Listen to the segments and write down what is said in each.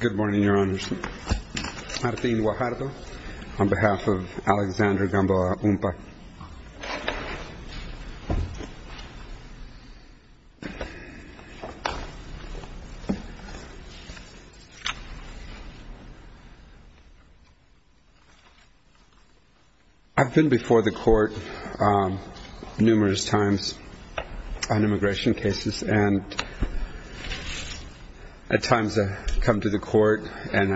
Good morning, Your Honors. Jardine Guajardo on behalf of Alexander Gamboa Umpa. I've been before the Court numerous times on immigration cases, and at times I come to the Court and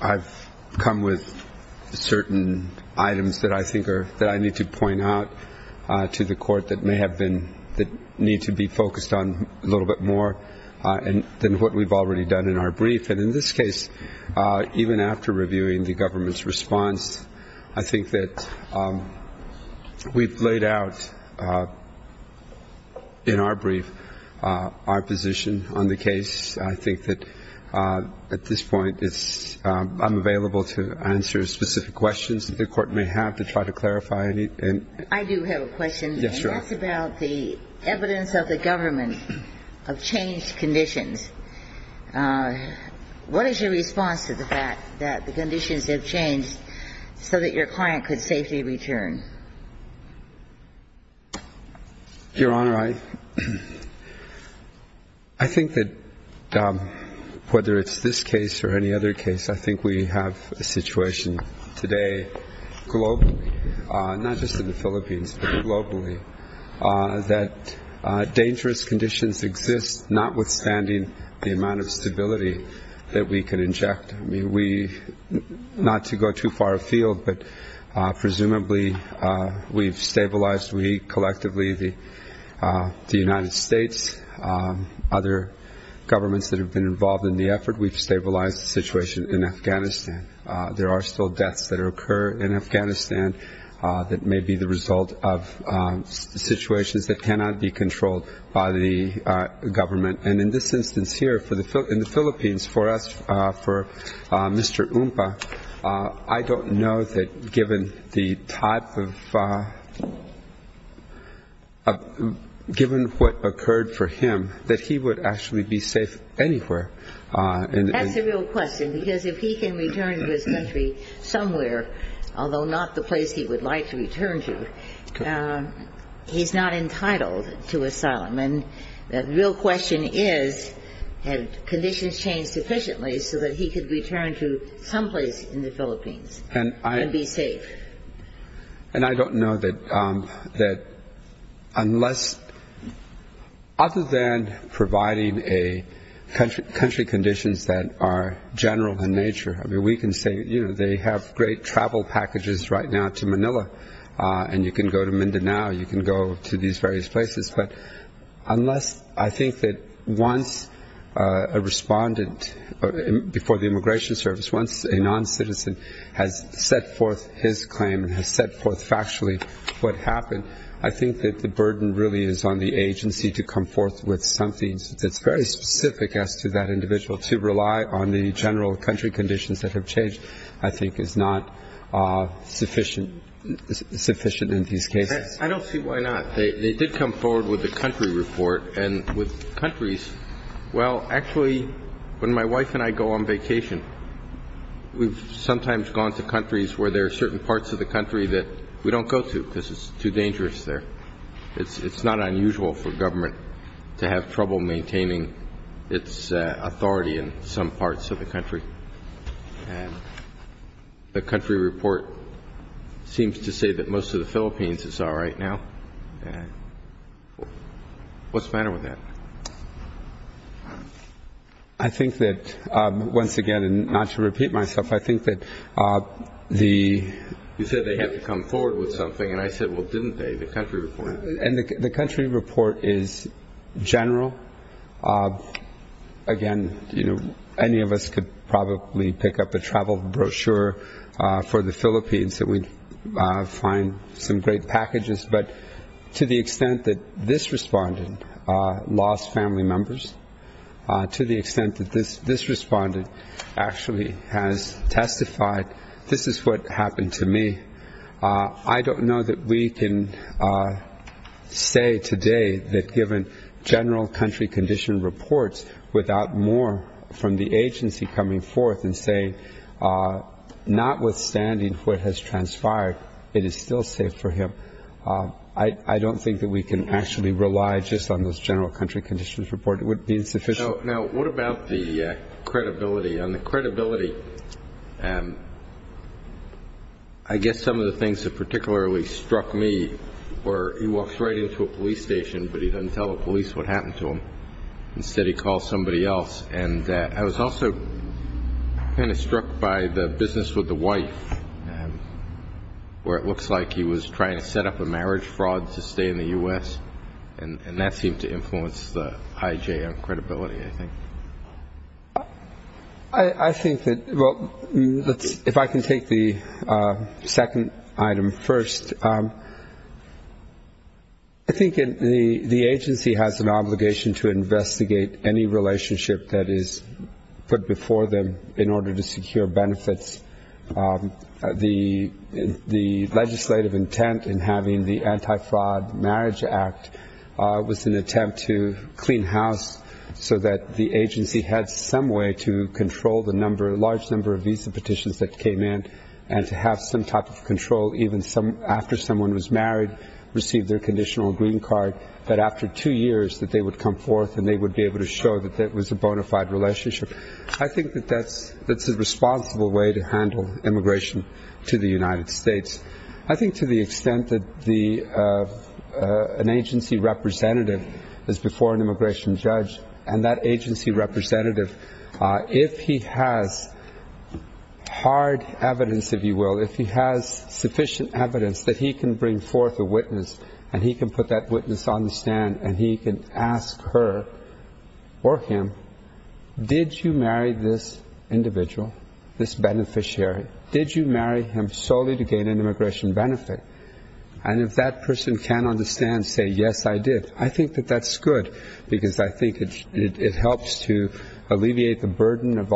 I've come with certain items that I think are, that I need to point out to the Court that may have been, that need to be focused on a little bit more than what we've already done in our brief. And in this case, even after reviewing the government's response, I think that we've laid out in our brief our position on the case. I think that at this point I'm available to answer specific questions that the Court may have to try to clarify any. I do have a question. Yes, Your Honor. That's about the evidence of the government of changed conditions. What is your response to the fact that the conditions have changed so that your client could safely return? Your Honor, I think that whether it's this case or any other case, I think we have a situation today globally, not just in the Philippines, but globally, that dangerous conditions exist notwithstanding the amount of stability that we can inject. I mean, we, not to go too far afield, but presumably we've stabilized, we collectively, the United States, other governments that have been involved in the effort, we've stabilized the situation in Afghanistan. There are still deaths that occur in Afghanistan that may be the result of situations that cannot be controlled by the government. And in this instance here, in the Philippines, for us, for Mr. Umpa, I don't know that given the type of, given what occurred for him, that he would actually be safe anywhere. That's the real question, because if he can return to his country somewhere, although not the place he would like to return to, he's not entitled to asylum. And the real question is, have conditions changed sufficiently so that he could return to someplace in the Philippines and be safe? And I don't know that unless, other than providing a country conditions that are general in nature, I mean, we can say, you know, they have great travel packages right now to Manila, and you can go to Mindanao, you can go to these various places, but unless I think that once a respondent, before the Immigration Service, once a non-citizen has set forth his claim and has set forth factually what happened, I think that the burden really is on the agency to come forth with something that's very specific as to that individual. To rely on the general country conditions that have changed, I think, is not sufficient in these cases. I don't see why not. They did come forward with the country report. And with countries, well, actually, when my wife and I go on vacation, we've sometimes gone to countries where there are certain parts of the country that we don't go to because it's too dangerous there. It's not unusual for government to have trouble maintaining its authority in some parts of the country. And the country report seems to say that most of the Philippines is all right now. What's the matter with that? I think that, once again, and not to repeat myself, I think that the... You said they have to come forward with something, and I said, well, didn't they, the country report? And the country report is general. Again, any of us could probably pick up a travel brochure for the Philippines that we'd find some great packages. But to the extent that this respondent lost family members, to the extent that this respondent actually has testified, this is what happened to me. I don't know that we can say today that, given general country condition reports, without more from the agency coming forth and saying, notwithstanding what has transpired, it is still safe for him. I don't think that we can actually rely just on this general country conditions report. It would be insufficient. Now, what about the credibility? On the credibility, I guess some of the things that particularly struck me were, he walks right into a police station, but he doesn't tell the police what happened to him. Instead, he calls somebody else. And I was also kind of struck by the business with the wife, where it looks like he was trying to set up a marriage fraud to stay in the U.S., and that seemed to influence the IJ on credibility, I think. I think that, well, if I can take the second item first, I think the agency has an obligation to investigate any relationship that is put before them in order to secure benefits. The legislative intent in having the Anti-Fraud Marriage Act was an attempt to clean house so that the agency had some way to control the large number of visa petitions that came in and to have some type of control even after someone was married, received their conditional green card, that after two years that they would come forth and they would be able to show that it was a bona fide relationship. I think that that's a responsible way to handle immigration to the United States. I think to the extent that an agency representative is before an immigration judge, and that agency representative, if he has hard evidence, if you will, if he has sufficient evidence that he can bring forth a witness and he can put that witness on the stand and he can ask her or him, did you marry this individual, this beneficiary? Did you marry him solely to gain an immigration benefit? And if that person can understand, say, yes, I did, I think that that's good, because I think it helps to alleviate the burden of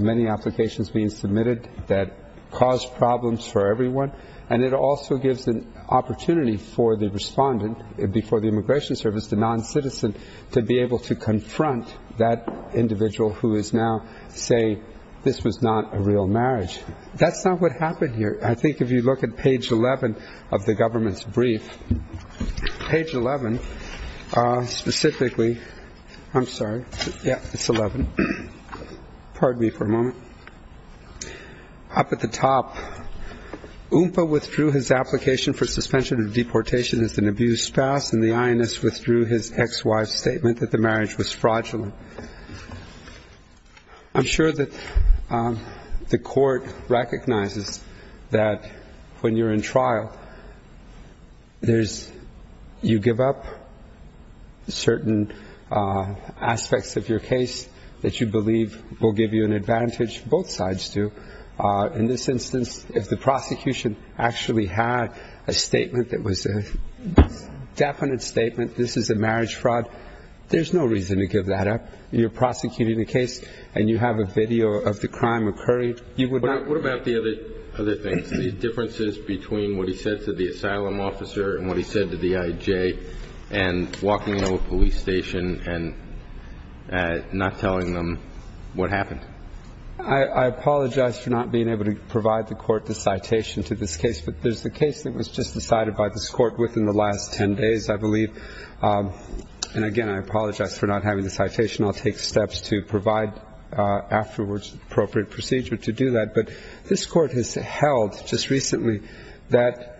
many applications being submitted that cause problems for everyone, and it also gives an opportunity for the respondent before the immigration service, the noncitizen, to be able to confront that individual who is now, say, this was not a real marriage. That's not what happened here. I think if you look at page 11 of the government's brief, page 11, specifically, I'm sorry, yeah, it's 11. Pardon me for a moment. Up at the top, UNPA withdrew his application for suspension of deportation as an abused spouse, and the INS withdrew his ex-wife's statement that the marriage was fraudulent. I'm sure that the court recognizes that when you're in trial, there's you give up certain aspects of your case that you believe will give you an advantage, both sides do. In this instance, if the prosecution actually had a statement that was a definite statement, this is a marriage fraud, there's no reason to give that up. You're prosecuting a case, and you have a video of the crime occurring. What about the other things, the differences between what he said to the asylum officer and what he said to the IJ, and walking into a police station and not telling them what happened? I apologize for not being able to provide the court the citation to this case, but there's a case that was just decided by this court within the last 10 days, I believe. And, again, I apologize for not having the citation. I'll take steps to provide afterwards appropriate procedure to do that. But this court has held just recently that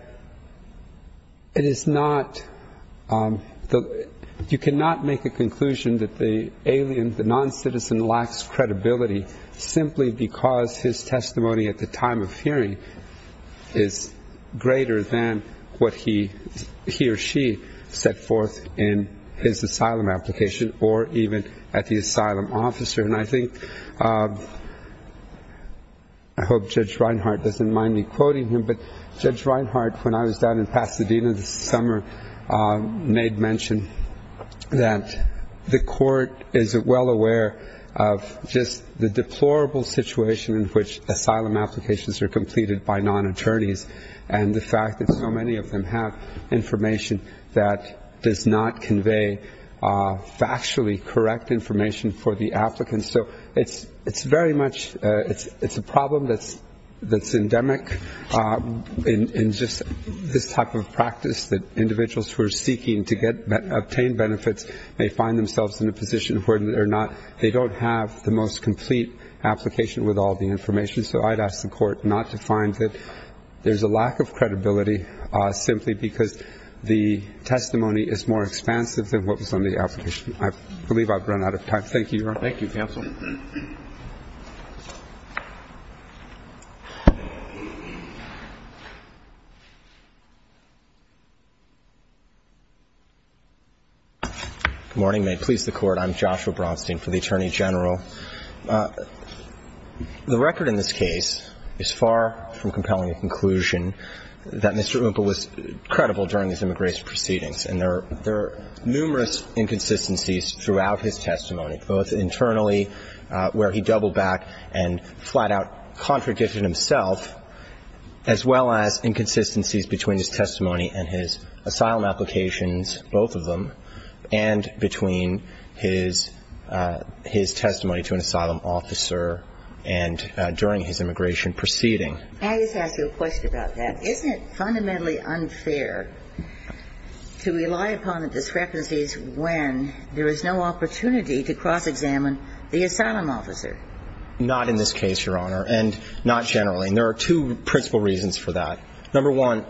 you cannot make a conclusion that the alien, the non-citizen lacks credibility simply because his testimony at the time of hearing is greater than what he or she set forth in his asylum application or even at the asylum officer. And I think, I hope Judge Reinhart doesn't mind me quoting him, but Judge Reinhart, when I was down in Pasadena this summer, made mention that the court is well aware of just the deplorable situation in which asylum applications are completed by non-attorneys, and the fact that so many of them have information that does not convey factually correct information for the applicants, so it's very much a problem that's endemic in just this type of practice that individuals who are seeking to obtain benefits may find themselves in a position where they don't have the most complete application with all the information. So I'd ask the court not to find that there's a lack of credibility simply because the testimony is more expansive than what was on the application. I believe I've run out of time. Thank you, Your Honor. Thank you, counsel. Good morning. May it please the Court. I'm Joshua Bronstein for the Attorney General. The record in this case is far from compelling a conclusion that Mr. Umpa was credible during his immigration proceedings. And there are numerous inconsistencies throughout his testimony, both internally where he doubled back and flat out contradicted himself, as well as inconsistencies between his testimony and his asylum applications, both of them, and between his testimony to an asylum officer and during his immigration proceeding. May I just ask you a question about that? Isn't it fundamentally unfair to rely upon the discrepancies when there is no opportunity to cross-examine the asylum officer? Not in this case, Your Honor, and not generally. And there are two principal reasons for that. Number one,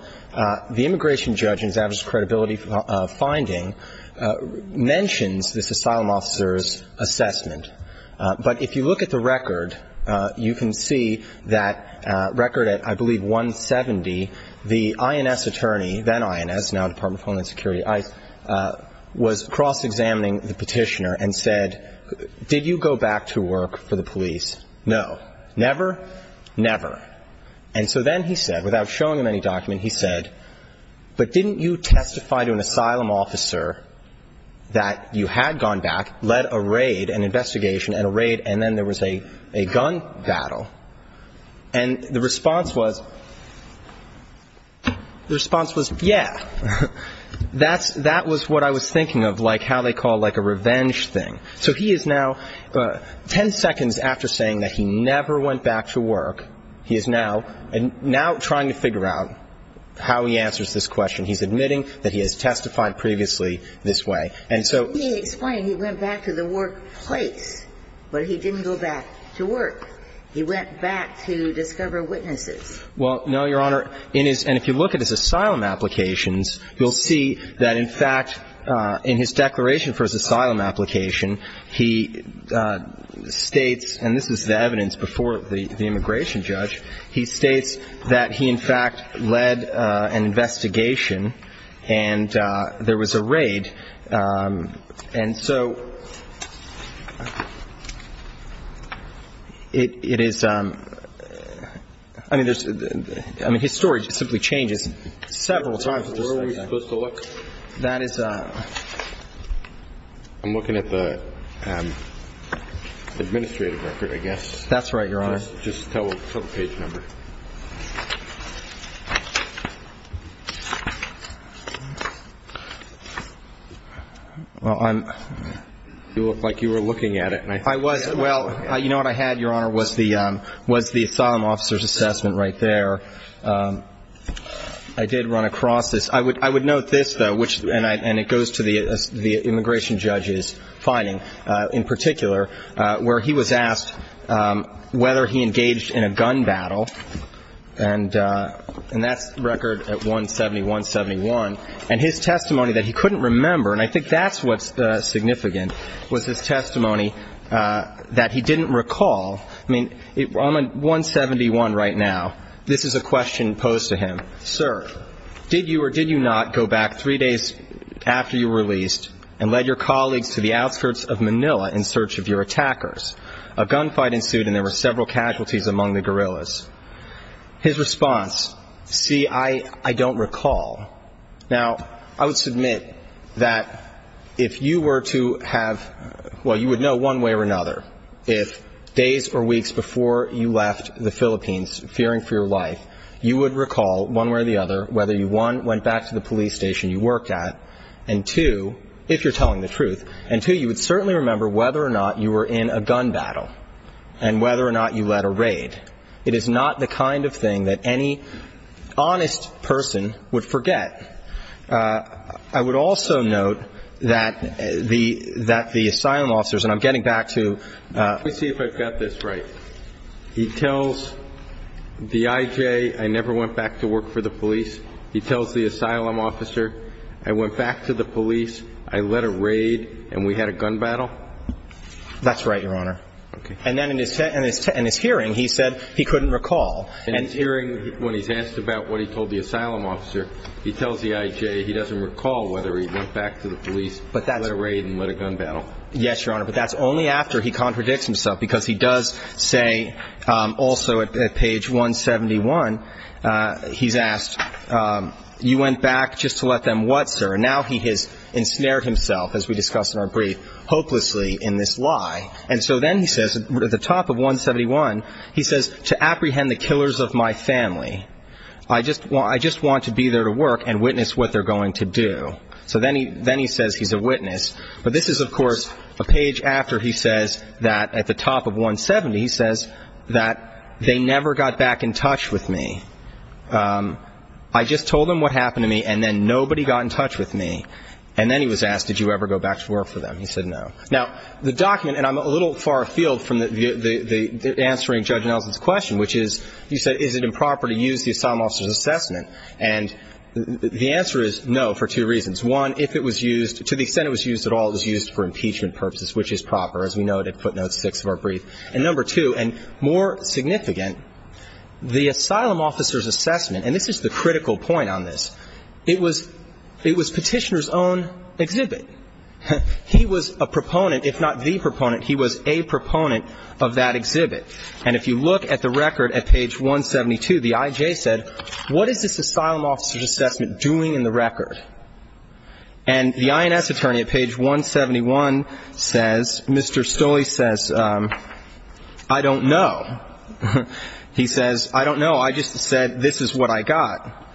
the immigration judge in his average credibility finding mentions this asylum officer's assessment. But if you look at the record, you can see that record at, I believe, 170, the INS attorney, then INS, now Department of Homeland Security, was cross-examining the petitioner and said, did you go back to work for the police? No. Never? Never. And so then he said, without showing him any document, he said, but didn't you testify to an asylum officer that you had gone back, led a raid, an investigation, and a raid, and then there was a gun battle? And the response was, the response was, yeah. That was what I was thinking of, like how they call like a revenge thing. So he is now ten seconds after saying that he never went back to work, he is now trying to figure out how he answers this question. He's admitting that he has testified previously this way. And so he explained he went back to the workplace, but he didn't go back to work. He went back to discover witnesses. Well, no, Your Honor. And if you look at his asylum applications, you'll see that, in fact, in his declaration for his asylum application, he states, and this is the evidence before the immigration judge, he states that he, in fact, led an investigation and there was a raid. And so it is, I mean, there's, I mean, his story simply changes several times at the same time. Where are we supposed to look? That is a... I'm looking at the administrative record, I guess. That's right, Your Honor. Just tell the page number. Well, I'm... You look like you were looking at it. I was. Well, you know what I had, Your Honor, was the asylum officer's assessment right there. I did run across this. I would note this, though, and it goes to the immigration judge's finding in particular, where he was asked whether he engaged in a gun battle. And that's record at 170-171. And his testimony that he couldn't remember, and I think that's what's significant, was his testimony that he didn't recall. I mean, I'm at 171 right now. This is a question posed to him. Sir, did you or did you not go back three days after you were released and led your colleagues to the outskirts of Manila in search of your attackers? A gunfight ensued, and there were several casualties among the guerrillas. His response, see, I don't recall. Now, I would submit that if you were to have, well, you would know one way or another, if days or weeks before you left the Philippines, fearing for your life, you would recall one way or the other whether you, one, went back to the police station you worked at, and, two, if you're telling the truth, and, two, you would certainly remember whether or not you were in a gun battle and whether or not you led a raid. It is not the kind of thing that any honest person would forget. I would also note that the asylum officers, and I'm getting back to – Let me see if I've got this right. He tells the I.J. I never went back to work for the police. He tells the asylum officer I went back to the police. I led a raid, and we had a gun battle? That's right, Your Honor. Okay. And then in his hearing, he said he couldn't recall. In his hearing, when he's asked about what he told the asylum officer, he tells the I.J. He doesn't recall whether he went back to the police, led a raid, and led a gun battle. Yes, Your Honor. But that's only after he contradicts himself, because he does say also at page 171, he's asked, you went back just to let them what, sir? And now he has ensnared himself, as we discussed in our brief, hopelessly in this lie. And so then he says, at the top of 171, he says, to apprehend the killers of my family. I just want to be there to work and witness what they're going to do. So then he says he's a witness. But this is, of course, a page after he says that at the top of 170, he says that they never got back in touch with me. I just told them what happened to me, and then nobody got in touch with me. And then he was asked, did you ever go back to work for them? He said no. Now, the document, and I'm a little far afield from the answering Judge Nelson's question, which is, you said, is it improper to use the asylum officer's assessment? And the answer is no, for two reasons. One, if it was used, to the extent it was used at all, it was used for impeachment purposes, which is proper. As we noted, footnote six of our brief. And number two, and more significant, the asylum officer's assessment, and this is the critical point on this, it was Petitioner's own exhibit. He was a proponent, if not the proponent, he was a proponent of that exhibit. And if you look at the record at page 172, the I.J. said, what is this asylum officer's assessment doing in the record? And the I.N.S. attorney at page 171 says, Mr. Stolle says, I don't know. He says, I don't know. I just said this is what I got.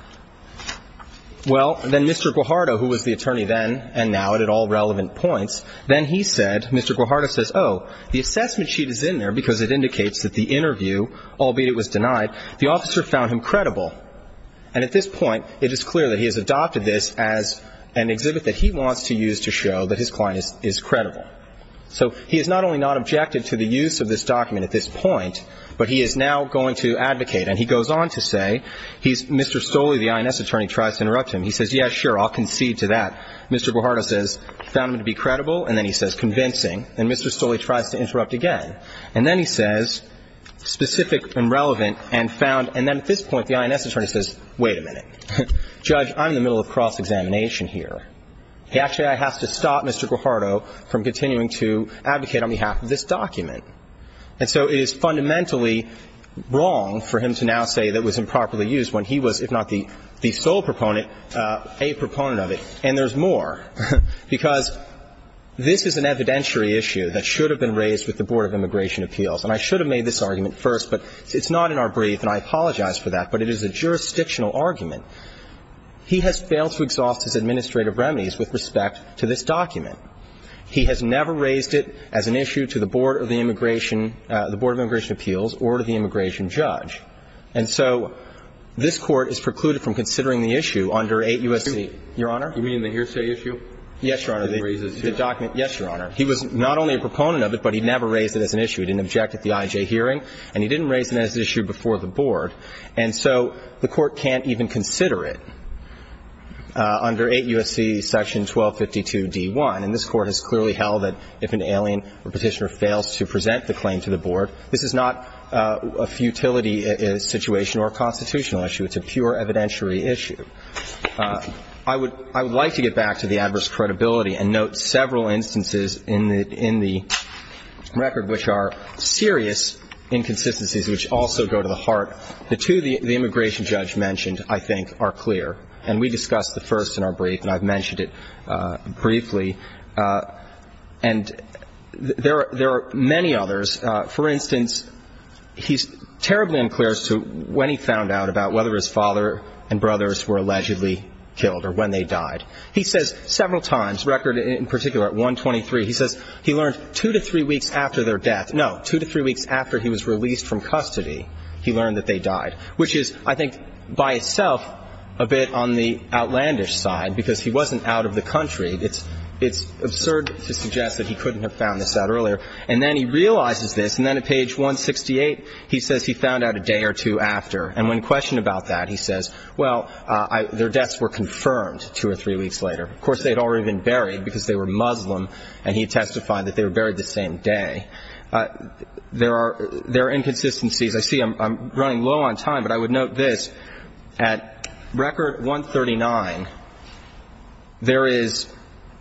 Well, then Mr. Guajardo, who was the attorney then and now at all relevant points, then he said, Mr. Guajardo says, oh, the assessment sheet is in there because it indicates that the interview, albeit it was denied, the officer found him credible. And at this point, it is clear that he has adopted this as an exhibit that he wants to use to show that his client is credible. So he is not only not objective to the use of this document at this point, but he is now going to advocate. And he goes on to say, Mr. Stolle, the I.N.S. attorney, tries to interrupt him. He says, yeah, sure, I'll concede to that. Mr. Guajardo says, found him to be credible. And then he says, convincing. And Mr. Stolle tries to interrupt again. And then he says, specific and relevant and found. And then at this point, the I.N.S. attorney says, wait a minute. Judge, I'm in the middle of cross-examination here. Actually, I have to stop Mr. Guajardo from continuing to advocate on behalf of this document. And so it is fundamentally wrong for him to now say that it was improperly used when he was, if not the sole proponent, a proponent of it. And there's more, because this is an evidentiary issue that should have been raised with the Board of Immigration Appeals. And I should have made this argument first, but it's not in our brief, and I apologize for that, but it is a jurisdictional argument. He has failed to exhaust his administrative remedies with respect to this document. He has never raised it as an issue to the Board of the Immigration – the Board of Immigration Appeals or to the immigration judge. And so this Court is precluded from considering the issue under 8 U.S.C. Your Honor? You mean the hearsay issue? Yes, Your Honor. The document – yes, Your Honor. He was not only a proponent of it, but he never raised it as an issue. He didn't object at the I.J. hearing, and he didn't raise it as an issue before the Board. And so the Court can't even consider it under 8 U.S.C. section 1252d1. And this Court has clearly held that if an alien or Petitioner fails to present the claim to the Board, this is not a futility situation or a constitutional issue. It's a pure evidentiary issue. I would – I would like to get back to the adverse credibility and note several instances in the – in the record which are serious inconsistencies which also go to the heart. The two the immigration judge mentioned, I think, are clear. And we discussed the first in our brief, and I've mentioned it briefly. And there are – there are many others. For instance, he's terribly unclear as to when he found out about whether his father and brothers were allegedly killed or when they died. He says several times, record in particular at 123, he says he learned two to three weeks after their death – no, two to three weeks after he was released from custody, he learned that they died, which is, I think, by itself a bit on the outlandish side because he wasn't out of the country. It's – it's absurd to suggest that he couldn't have found this out earlier. And then he realizes this, and then at page 168, he says he found out a day or two after. And when questioned about that, he says, well, their deaths were confirmed two or three weeks later. Of course, they had already been buried because they were Muslim, and he testified that they were buried the same day. There are – there are inconsistencies. I see I'm running low on time, but I would note this. At record 139, there is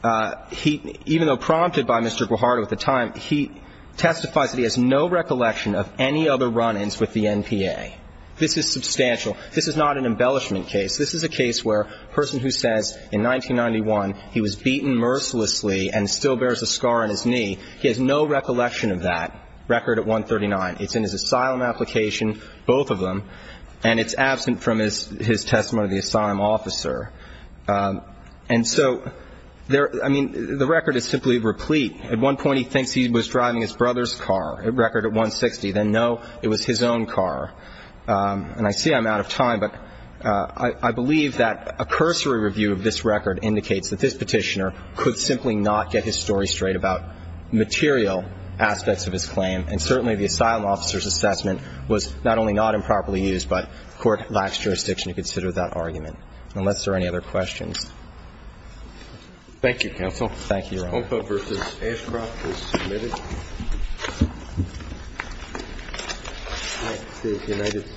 – he – even though prompted by Mr. Guajardo at the time, he testifies that he has no recollection of any other run-ins with the NPA. This is substantial. This is not an embellishment case. This is a case where a person who says in 1991 he was beaten mercilessly and still bears a scar on his knee, he has no recollection of that. Record at 139. It's in his asylum application, both of them, and it's absent from his – his testimony to the asylum officer. And so there – I mean, the record is simply replete. At one point, he thinks he was driving his brother's car. At record at 160, then no, it was his own car. And I see I'm out of time, but I – I believe that a cursory review of this record indicates that this Petitioner could simply not get his story straight about material aspects of his claim, and certainly the asylum officer's assessment was not only not improperly used, but court lacks jurisdiction to consider that argument, unless there are any other questions. Thank you, counsel. Thank you, Your Honor. The case of Ompa v. Ashcroft is submitted. Next is United States v. Cortez Arias.